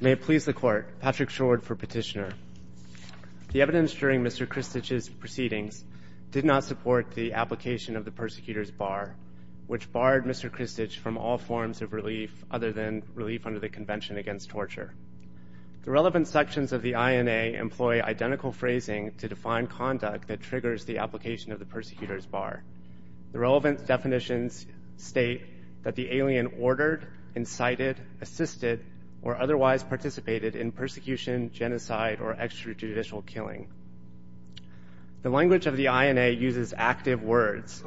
May it please the Court, Patrick Schroed for Petitioner. The evidence during Mr. Krstic's proceedings did not support the application of the persecutor's bar, which barred Mr. Krstic from all forms of relief other than relief under the Convention Against Torture. The relevant sections of the INA employ identical phrasing to define conduct that triggers the application of the persecutor's bar. The relevant definitions state that the alien ordered, incited, assisted, or otherwise participated in persecution, genocide, or extrajudicial killing. The language of the INA uses active words,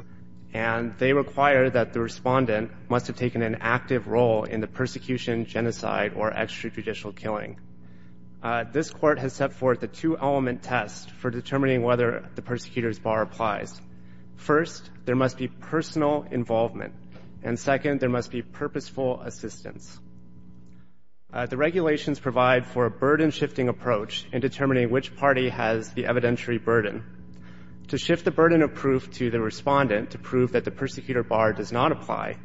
and they require that the respondent must have taken an active role in the persecution, genocide, or extrajudicial killing. This Court has set forth a two-element test for determining whether the persecutor's bar applies. First, there must be personal involvement, and second, there must be purposeful assistance. The regulations provide for a burden-shifting approach in determining which party has the evidentiary burden. To shift the burden of proof to the respondent to prove that the persecutor's bar does not apply,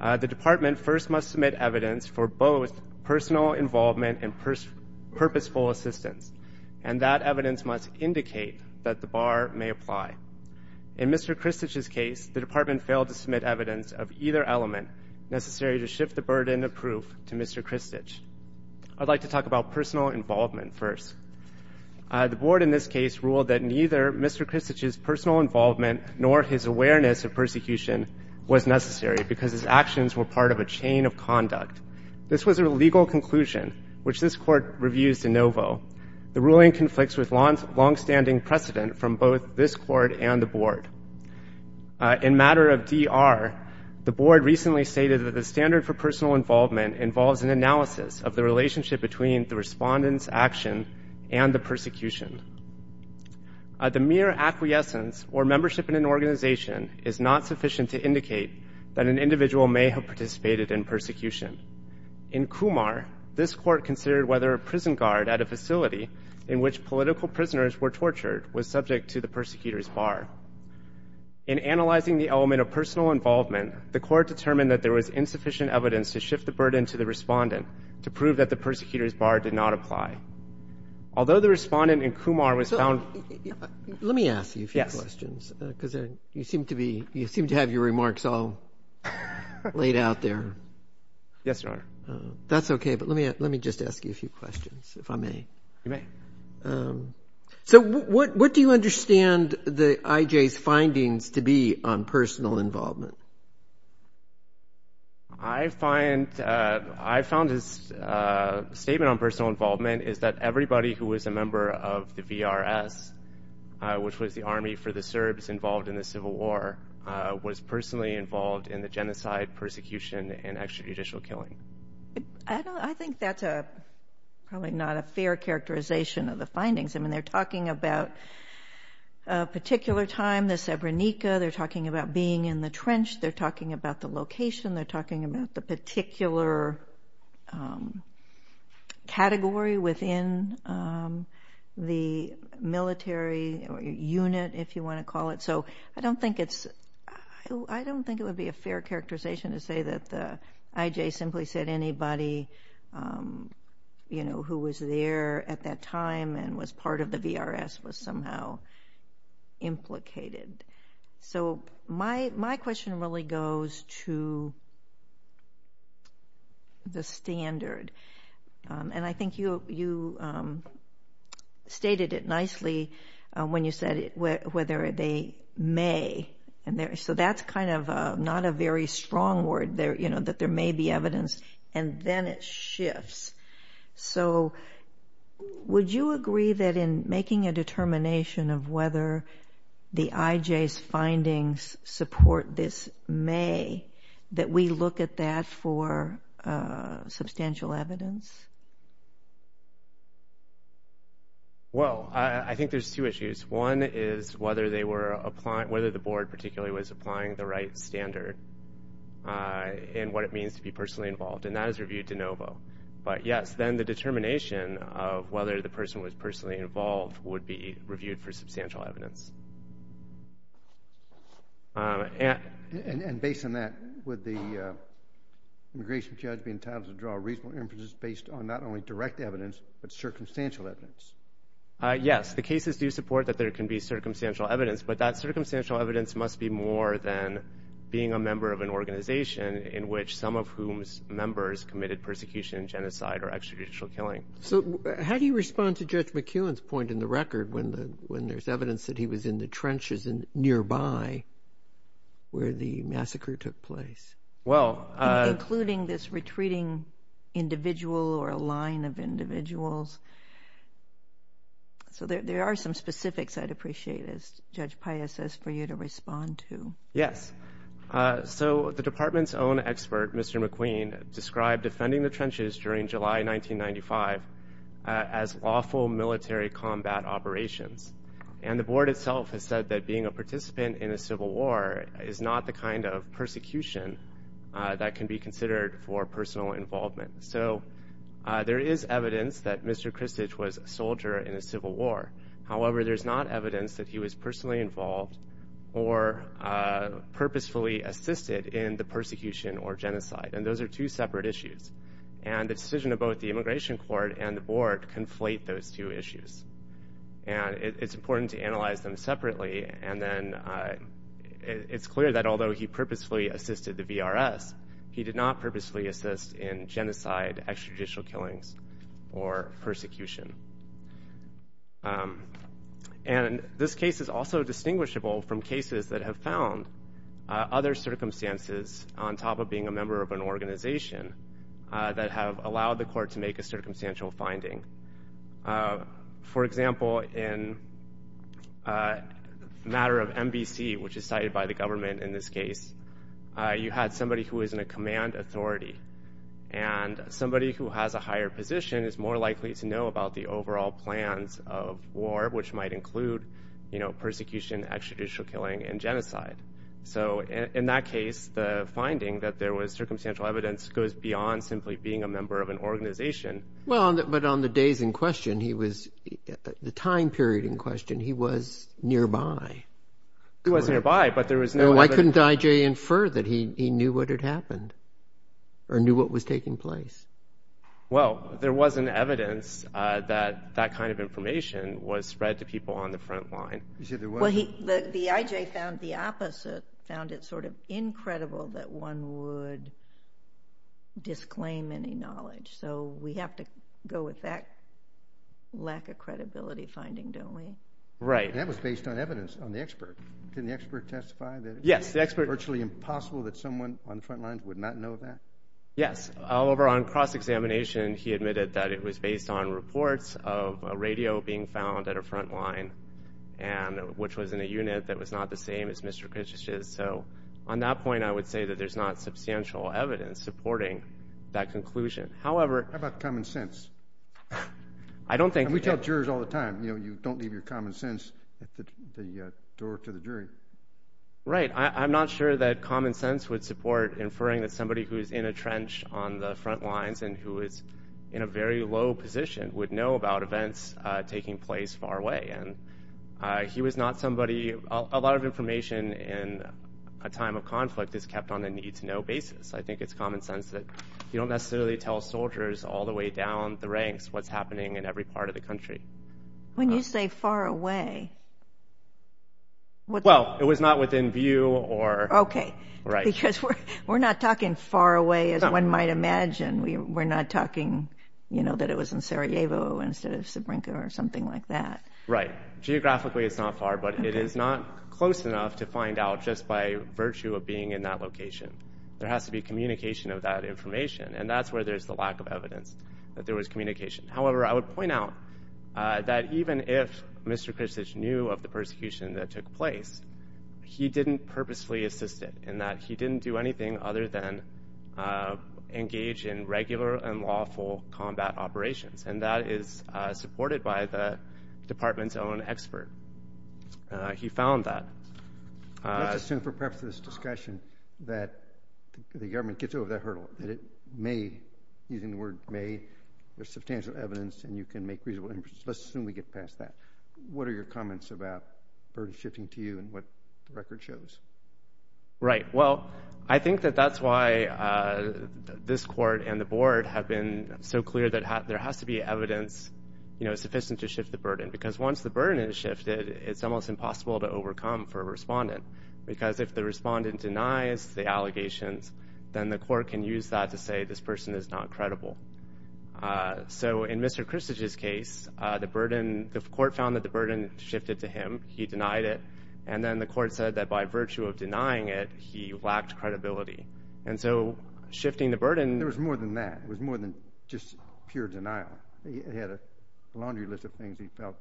the Department first must submit evidence for both personal involvement and purposeful assistance, and that evidence must indicate that the bar may apply. In Mr. Christich's case, the Department failed to submit evidence of either element necessary to shift the burden of proof to Mr. Christich. I'd like to talk about personal involvement first. The Board in this case ruled that neither Mr. Christich's personal involvement nor his awareness of persecution was necessary because his actions were part of a chain of conduct. This was a legal conclusion, which this Court reviews de novo. The ruling conflicts with longstanding precedent from both this Court and the Board. In matter of DR, the Board recently stated that the standard for personal involvement involves an analysis of the relationship between the respondent's action and the persecution. The mere acquiescence or membership in an organization is not sufficient to indicate that an individual may have participated in persecution. In Kumar, this Court considered whether a prison guard at a facility in which political prisoners were tortured was subject to the persecutor's bar. In analyzing the element of personal involvement, the Court determined that there was insufficient evidence to shift the burden to the respondent to prove that the persecutor's bar did not apply. Although the respondent in Kumar was found— So, what do you understand the I.J.'s findings to be on personal involvement? I find his statement on personal involvement is that everybody who was a member of the genocide, persecution, and extrajudicial killing. I think that's probably not a fair characterization of the findings. They're talking about a particular time, the Sebrenica. They're talking about being in the trench. They're talking about the location. They're talking about the particular category within the military unit, if you want to call it. I don't think it would be a fair characterization to say that the I.J. simply said anybody who was there at that time and was part of the VRS was somehow implicated. My question really goes to the standard. I think you stated it nicely when you said whether they may. That's not a very strong word, that there may be evidence, and then it shifts. Would you agree that in making a determination of whether the I.J.'s findings support this that we look at that for substantial evidence? Well, I think there's two issues. One is whether the board particularly was applying the right standard in what it means to be personally involved. That is reviewed de novo, but yes, then the determination of whether the person was personally involved would be reviewed for substantial evidence. And based on that, would the immigration judge be entitled to draw reasonable inferences based on not only direct evidence, but circumstantial evidence? Yes, the cases do support that there can be circumstantial evidence, but that circumstantial evidence must be more than being a member of an organization in which some of whom's members committed persecution, genocide, or extrajudicial killing. So how do you respond to Judge McKeown's point in the record when there's evidence that he was in the trenches nearby where the massacre took place, including this retreating individual or a line of individuals? So there are some specifics I'd appreciate, as Judge Paya says, for you to respond to. Yes. So the department's own expert, Mr. McQueen, described defending the trenches during July 1995 as awful military combat operations. And the board itself has said that being a participant in a civil war is not the kind of persecution that can be considered for personal involvement. So there is evidence that Mr. Christich was a soldier in a civil war. However, there's not evidence that he was personally involved or purposefully assisted in the persecution or genocide. And those are two separate issues. And the decision of both the immigration court and the board conflate those two issues. And it's important to analyze them separately. And then it's clear that although he purposefully assisted the VRS, he did not purposefully assist in genocide, extrajudicial killings, or persecution. And this case is also distinguishable from cases that have found other circumstances on top of being a member of an organization that have allowed the court to make a circumstantial finding. For example, in a matter of NBC, which is cited by the government in this case, you had somebody who was in a command authority. And somebody who has a higher position is more likely to know about the overall plans of war, which might include persecution, extrajudicial killing, and genocide. So in that case, the finding that there was circumstantial evidence goes beyond simply being a member of an organization. But on the days in question, the time period in question, he was nearby. He was nearby. But there was no evidence. Why couldn't I.J. infer that he knew what had happened or knew what was taking place? Well, there wasn't evidence that that kind of information was spread to people on the front line. You said there wasn't? Well, the I.J. found the opposite, found it sort of incredible that one would disclaim any knowledge. So we have to go with that lack of credibility finding, don't we? Right. And that was based on evidence, on the expert. Couldn't the expert testify that it was virtually impossible that someone on the front lines would not know that? Yes. However, on cross-examination, he admitted that it was based on reports of a radio being found at a front line, which was in a unit that was not the same as Mr. Kitch's. So on that point, I would say that there's not substantial evidence supporting that conclusion. How about common sense? I don't think. And we tell jurors all the time, you know, you don't leave your common sense at the door to the jury. Right. I'm not sure that common sense would support inferring that somebody who is in a trench on the front lines and who is in a very low position would know about events taking place far away. And he was not somebody, a lot of information in a time of conflict is kept on a need to know basis. I think it's common sense that you don't necessarily tell soldiers all the way down the ranks what's happening in every part of the country. When you say far away, well, it was not within view or. Okay. Right. Because we're not talking far away as one might imagine. We're not talking, you know, that it was in Sarajevo instead of Srebrenica or something like that. Right. Geographically, it's not far, but it is not close enough to find out just by virtue of being in that location. There has to be communication of that information, and that's where there's the lack of evidence that there was communication. However, I would point out that even if Mr. Khrushchev knew of the persecution that took place, he didn't purposefully assist it in that he didn't do anything other than engage in regular and lawful combat operations. And that is supported by the department's own expert. He found that. Let's assume for the purpose of this discussion that the government gets over that hurdle, that it made, using the word made, there's substantial evidence and you can make reasonable inferences. Let's assume we get past that. What are your comments about burden shifting to you and what the record shows? Right. Well, I think that that's why this court and the board have been so clear that there has to be evidence, you know, sufficient to shift the burden. Because once the burden is shifted, it's almost impossible to overcome for a respondent. Because if the respondent denies the allegations, then the court can use that to say, this person is not credible. So in Mr. Khrushchev's case, the burden, the court found that the burden shifted to him. He denied it. And then the court said that by virtue of denying it, he lacked credibility. And so shifting the burden... There was more than that. It was more than just pure denial. He had a laundry list of things he felt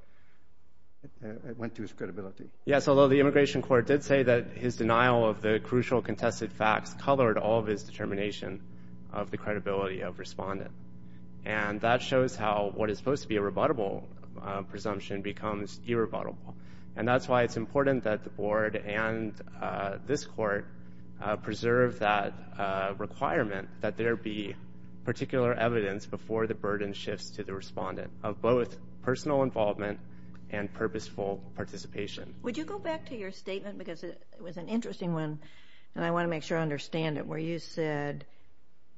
went to his credibility. Yes, although the immigration court did say that his denial of the crucial contested facts colored all of his determination of the credibility of respondent. And that shows how what is supposed to be a rebuttable presumption becomes irrebuttable. And that's why it's important that the board and this court preserve that requirement, that there be particular evidence before the burden shifts to the respondent of both personal involvement and purposeful participation. Would you go back to your statement, because it was an interesting one, and I want to make sure I understand it, where you said,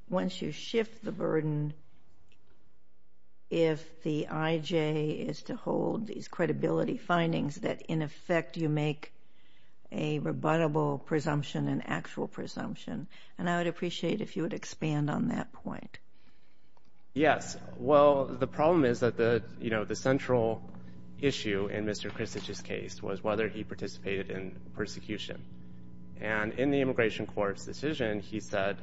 once you shift the burden, if the IJ is to hold these credibility findings, that in effect you make a rebuttable presumption an actual presumption. And I would appreciate if you would expand on that point. Yes, well, the problem is that the central issue in Mr. Christich's case was whether he participated in persecution. And in the immigration court's decision, he said,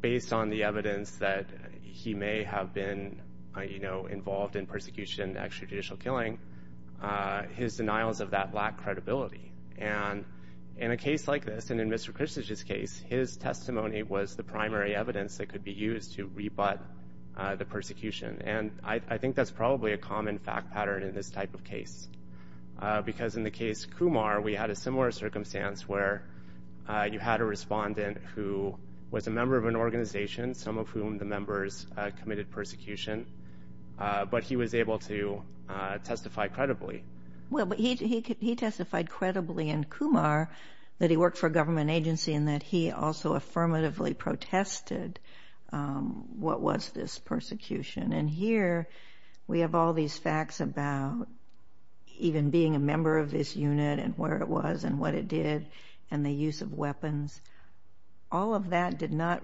based on the evidence that he may have been involved in persecution, extrajudicial killing, his denials of that lack credibility. And in a case like this, and in Mr. Christich's case, his testimony was the primary evidence that could be used to rebut the persecution. And I think that's probably a common fact pattern in this type of case, because in the case Kumar, we had a similar circumstance where you had a respondent who was a member of an organization, some of whom the members committed persecution, but he was able to testify credibly. Well, he testified credibly in Kumar that he worked for a government agency and that he also affirmatively protested what was this persecution. And here we have all these facts about even being a member of this unit and where it was and what it did and the use of weapons. All of that did not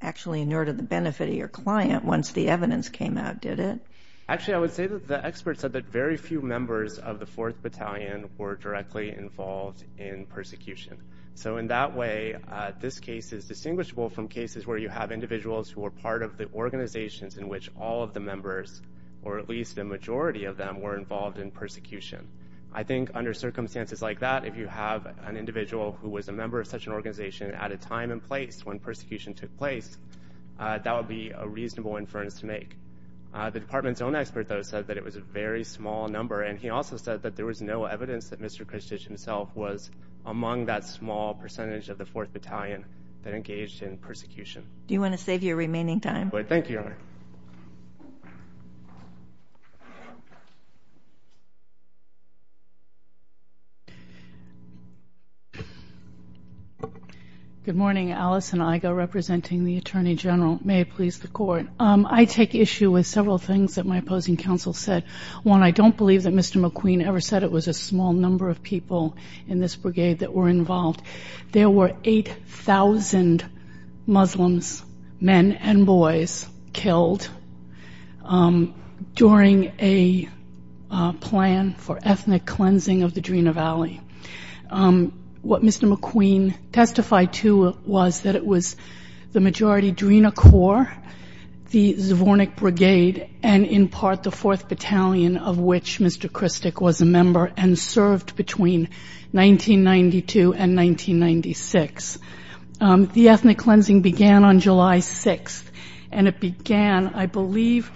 actually inure to the benefit of your client once the evidence came out, did it? Actually, I would say that the experts said that very few members of the 4th Battalion were directly involved in persecution. So in that way, this case is distinguishable from cases where you have individuals who are part of the organizations in which all of the members, or at least the majority of them, were involved in persecution. I think under circumstances like that, if you have an individual who was a member of such an organization at a time and place when persecution took place, that would be a reasonable inference to make. The department's own expert, though, said that it was a very small number. And he also said that there was no evidence that Mr. Kristich himself was among that small percentage of the 4th Battalion that engaged in persecution. Do you want to save your remaining time? Thank you, Your Honor. Good morning, Alison Igoe, representing the Attorney General. May it please the Court. I take issue with several things that my opposing counsel said. One, I don't believe that Mr. McQueen ever said it was a small number of people in this brigade that were involved. There were 8,000 Muslims, men and boys, killed during a plan for ethnic cleansing of the Drina Valley. What Mr. McQueen testified to was that it was the majority Drina Corps, the Zvornik Brigade, and in part the 4th Battalion of which Mr. Kristich was a member and served between 1992 and 1996. The ethnic cleansing began on July 6th and it began, I believe,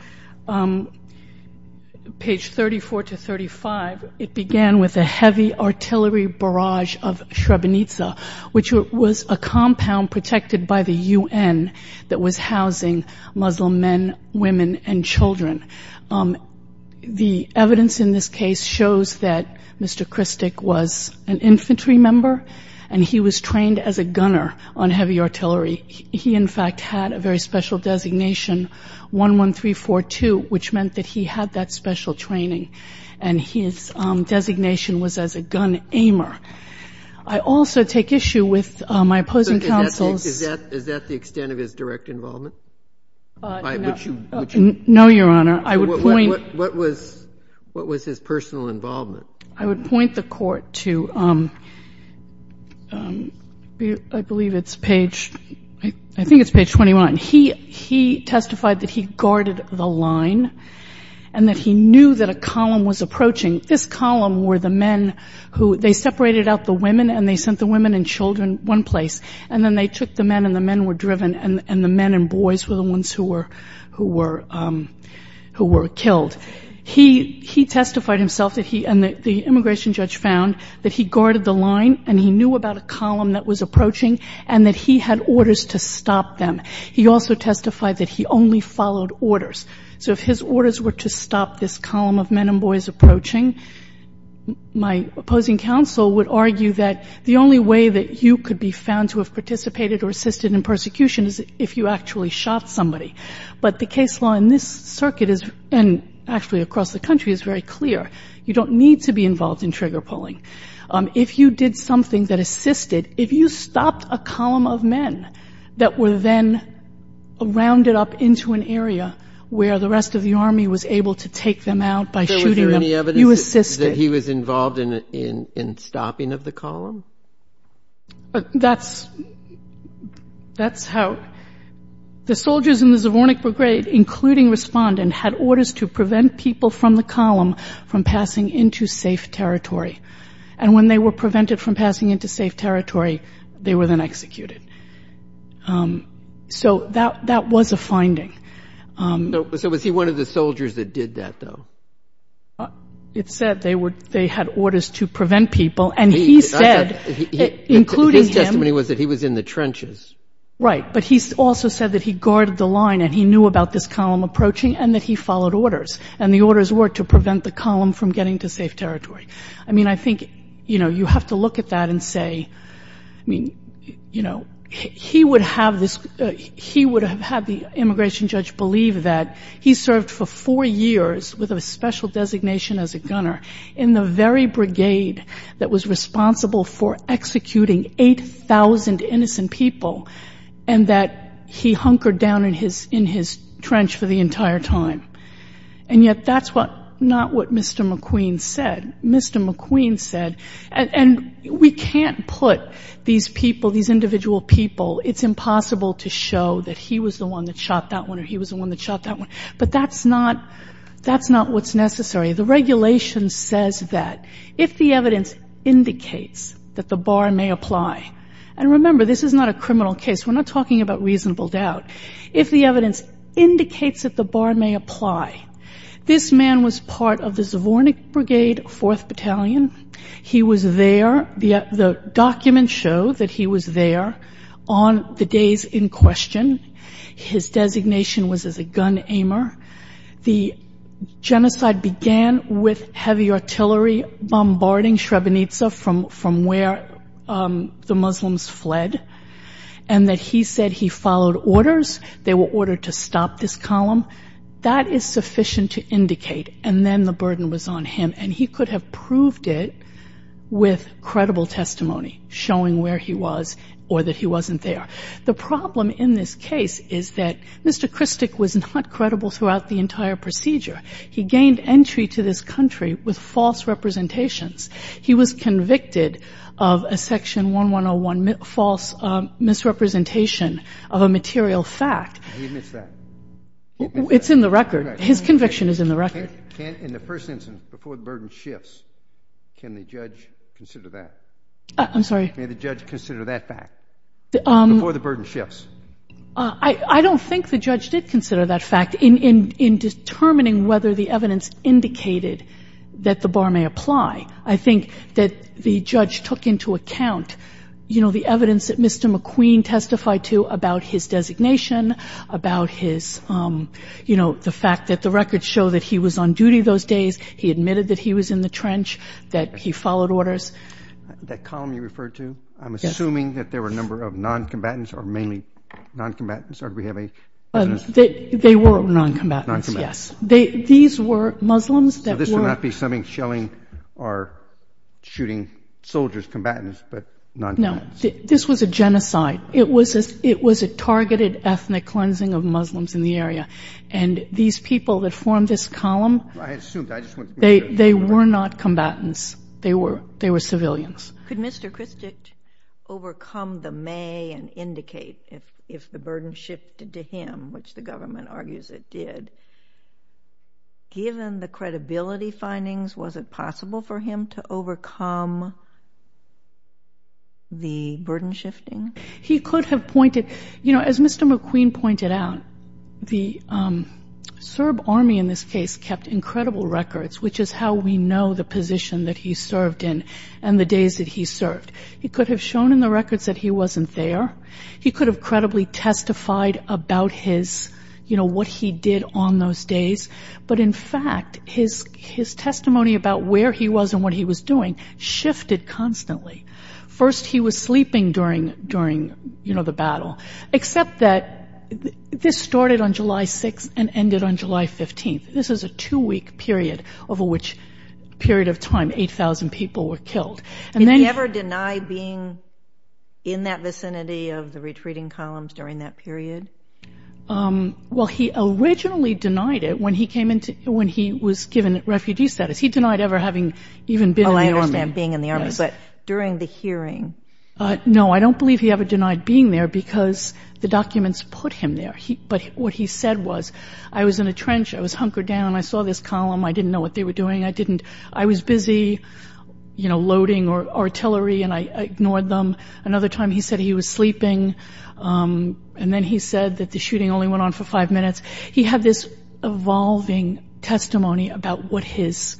page 34 to 35, it began with a heavy artillery barrage of Srebrenica, which was a compound protected by the UN that was housing Muslim men, women, and children. The evidence in this case shows that Mr. Kristich was an infantry member and he was trained as a gunner on heavy artillery. He, in fact, had a very special designation, 11342, which meant that he had that special training and his designation was as a gun aimer. I also take issue with my opposing counsel's- Is that the extent of his direct involvement? No, Your Honor. I would point- What was his personal involvement? I would point the court to, I believe it's page, I think it's page 21. He testified that he guarded the line and that he knew that a column was approaching. This column were the men who, they separated out the women and they sent the women and children one place and then they took the men and the men were driven and the men and boys were the ones who were killed. He testified himself that he, and the immigration judge found that he guarded the line and he knew about a column that was approaching and that he had orders to stop them. He also testified that he only followed orders. So if his orders were to stop this column of men and boys approaching, my opposing counsel would argue that the only way that you could be found to have participated or assisted in persecution is if you actually shot somebody. But the case law in this circuit is, and actually across the country, is very clear. You don't need to be involved in trigger pulling. If you did something that assisted, if you stopped a column of men that were then rounded up into an area where the rest of the army was able to take them out by shooting them, you assisted. Is there any evidence that he was involved in stopping of the column? That's, that's how, the soldiers in the Zvornik Brigade, including respondent, had orders to prevent people from the column from passing into safe territory. And when they were prevented from passing into safe territory, they were then executed. So that, that was a finding. So was he one of the soldiers that did that, though? It said they were, they had orders to prevent people and he said, including him. His testimony was that he was in the trenches. Right. But he also said that he guarded the line and he knew about this column approaching and that he followed orders. And the orders were to prevent the column from getting to safe territory. I mean, I think, you know, you have to look at that and say, I mean, you know, he would have this, he would have had the immigration judge believe that he served for four years with a special designation as a gunner in the very brigade that was responsible for executing 8,000 innocent people and that he hunkered down in his, in his trench for the entire time. And yet that's what, not what Mr. McQueen said. And we can't put these people, these individual people, it's impossible to show that he was the one that shot that one or he was the one that shot that one. But that's not, that's not what's necessary. The regulation says that if the evidence indicates that the bar may apply, and remember, this is not a criminal case. We're not talking about reasonable doubt. If the evidence indicates that the bar may apply, this man was part of the Zvornik Brigade, 4th Battalion. He was there, the documents show that he was there on the days in question. His designation was as a gun aimer. The genocide began with heavy artillery bombarding Srebrenica from, from where the Muslims fled and that he said he followed orders. They were ordered to stop this column. That is sufficient to indicate. And then the burden was on him and he could have proved it with credible testimony showing where he was or that he wasn't there. The problem in this case is that Mr. Kristic was not credible throughout the entire procedure. He gained entry to this country with false representations. He was convicted of a section 1101 false misrepresentation of a material fact. He admits that. It's in the record. His conviction is in the record. Can, in the first instance, before the burden shifts, can the judge consider that? I'm sorry? May the judge consider that fact before the burden shifts? I don't think the judge did consider that fact in determining whether the evidence indicated that the bar may apply. I think that the judge took into account, you know, the evidence that Mr. McQueen testified to about his designation. About his, you know, the fact that the records show that he was on duty those days, he admitted that he was in the trench, that he followed orders. That column you referred to, I'm assuming that there were a number of non-combatants or mainly non-combatants, or do we have a... They were non-combatants, yes. They, these were Muslims that were... So this would not be something shelling or shooting soldiers, combatants, but non-combatants. No, this was a genocide. It was a targeted ethnic cleansing of Muslims in the area. And these people that formed this column, they were not combatants. They were, they were civilians. Could Mr. Christich overcome the may and indicate if the burden shifted to him, which the government argues it did, given the credibility findings, was it possible for him to overcome the burden shifting? He could have pointed, you know, as Mr. McQueen pointed out, the Serb army in this case kept incredible records, which is how we know the position that he served in and the days that he served. He could have shown in the records that he wasn't there. He could have credibly testified about his, you know, what he did on those days. But in fact, his, his testimony about where he was and what he was doing shifted constantly. First, he was sleeping during, during, you know, the battle, except that this started on July 6th and ended on July 15th. This is a two week period over which period of time, 8,000 people were killed. And then he ever denied being in that vicinity of the retreating columns during that period? Um, well, he originally denied it when he came into, when he was given refugee status, he denied ever having even been in the army, being in the army. But during the hearing, uh, no, I don't believe he ever denied being there because the documents put him there. He, but what he said was, I was in a trench. I was hunkered down and I saw this column. I didn't know what they were doing. I didn't, I was busy, you know, loading or artillery and I ignored them. Another time he said he was sleeping. Um, and then he said that the shooting only went on for five minutes. He had this evolving testimony about what his,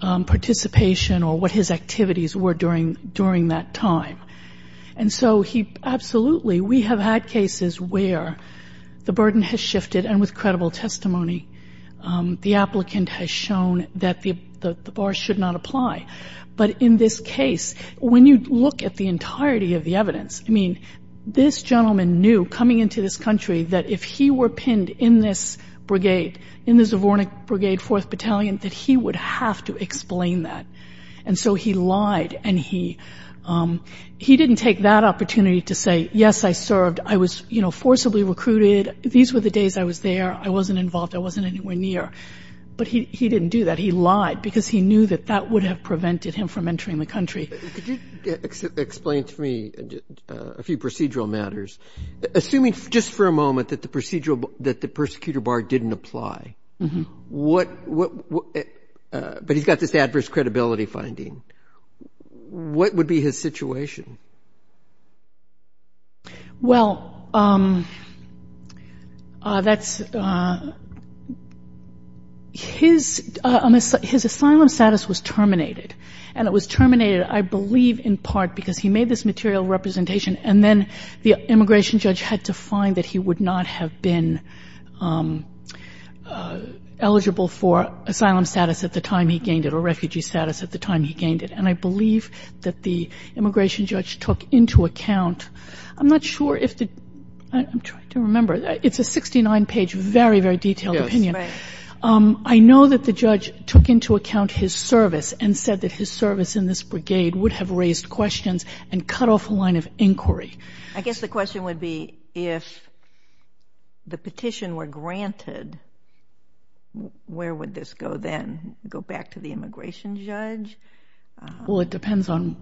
um, participation or what his activities were during, during that time. And so he absolutely, we have had cases where the burden has shifted and with credible testimony, um, the applicant has shown that the, the bar should not apply. But in this case, when you look at the entirety of the evidence, I mean, this gentleman knew coming into this country that if he were pinned in this brigade, in the Zvornik brigade, fourth battalion, that he would have to explain that. And so he lied and he, um, he didn't take that opportunity to say, yes, I served. I was, you know, forcibly recruited. These were the days I was there. I wasn't involved. I wasn't anywhere near. But he, he didn't do that. He lied because he knew that that would have prevented him from entering the country. Roberts, could you explain to me a few procedural matters? Assuming just for a moment that the procedural, that the persecutor bar didn't apply, what, what, what, uh, but he's got this adverse credibility finding. What would be his situation? Well, um, uh, that's, uh, his, uh, his asylum status was terminated and it was terminated, I believe in part because he made this material representation and then the immigration judge had to find that he would not have been, um, uh, eligible for asylum status at the time he gained it or refugee status at the time he gained it. And I believe that the immigration judge took into account, I'm not sure if the, I'm trying to remember, it's a 69 page, very, very detailed opinion. Um, I know that the judge took into account his service and said that his service in this brigade would have raised questions and cut off a line of inquiry. I guess the question would be if the petition were granted, where would this go then, go back to the immigration judge? Well, it depends on,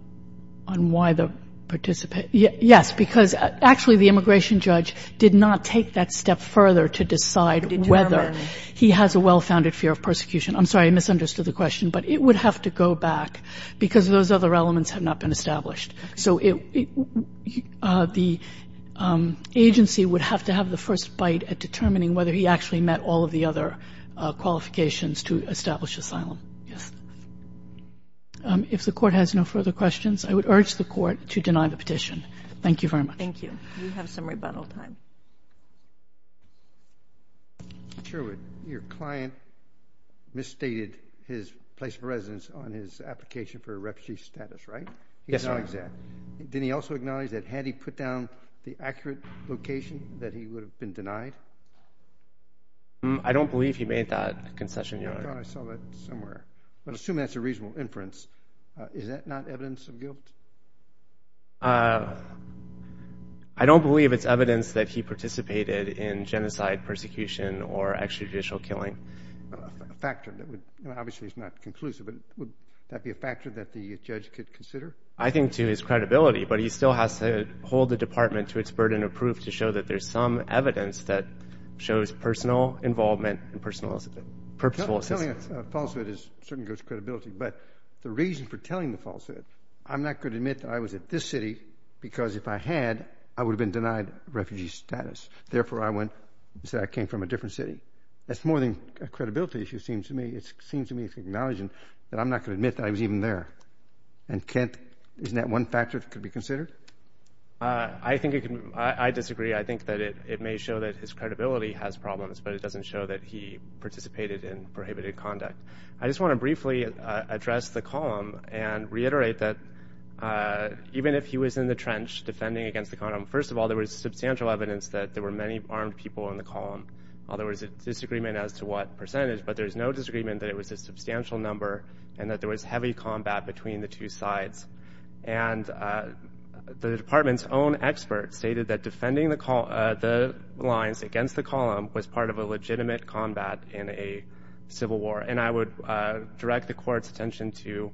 on why the participant, yes, because actually the immigration judge did not take that step further to decide whether he has a well-founded fear of persecution. I'm sorry, I misunderstood the question, but it would have to go back because of those other elements have not been established. So it, uh, the, um, agency would have to have the first bite at determining whether he actually met all of the other, uh, qualifications to establish asylum. Yes. Um, if the court has no further questions, I would urge the court to deny the petition. Thank you very much. Thank you. We have some rebuttal time. Sherwood, your client misstated his place of residence on his application for a refugee status, right? Yes, sir. Exactly. Did he also acknowledge that had he put down the accurate location that he would have been denied? I don't believe he made that concession. You're right. I saw that somewhere, but assume that's a reasonable inference. Uh, is that not evidence of guilt? Uh, I don't believe it's evidence that he participated in genocide, persecution, or extrajudicial killing. A factor that would, obviously it's not conclusive, but would that be a factor that the judge could consider? I think to his credibility, but he still has to hold the department to its burden of proof to show that there's some evidence that shows personal involvement and personal purposeful assistance. Telling a falsehood is certainly against credibility, but the reason for telling the falsehood, I'm not going to admit that I was at this city because if I had, I would have been denied refugee status. Therefore, I went and said I came from a different city. That's more than a credibility issue, it seems to me. It seems to me to acknowledge that I'm not going to admit that I was even there. And Kent, isn't that one factor that could be considered? Uh, I think it can, I disagree. I think that it, it may show that his credibility has problems, but it doesn't show that he participated in prohibited conduct. I just want to briefly address the column and reiterate that, uh, even if he was in the trench defending against the condom, first of all, there was substantial evidence that there were many armed people in the column, although there was a disagreement as to what percentage, but there was no disagreement that it was a substantial number and that there was heavy combat between the two sides. And, uh, the department's own experts stated that defending the call, uh, the lines against the column was part of a legitimate combat in a civil war. And I would, uh, direct the court's attention to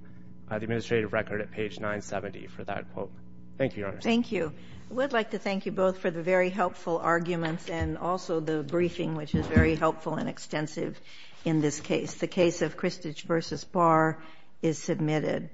the administrative record at page 970 for that quote. Thank you, Your Honor. Thank you. I would like to thank you both for the very helpful arguments and also the briefing, which is very helpful and extensive in this case, the case of Christich versus Barr is submitted.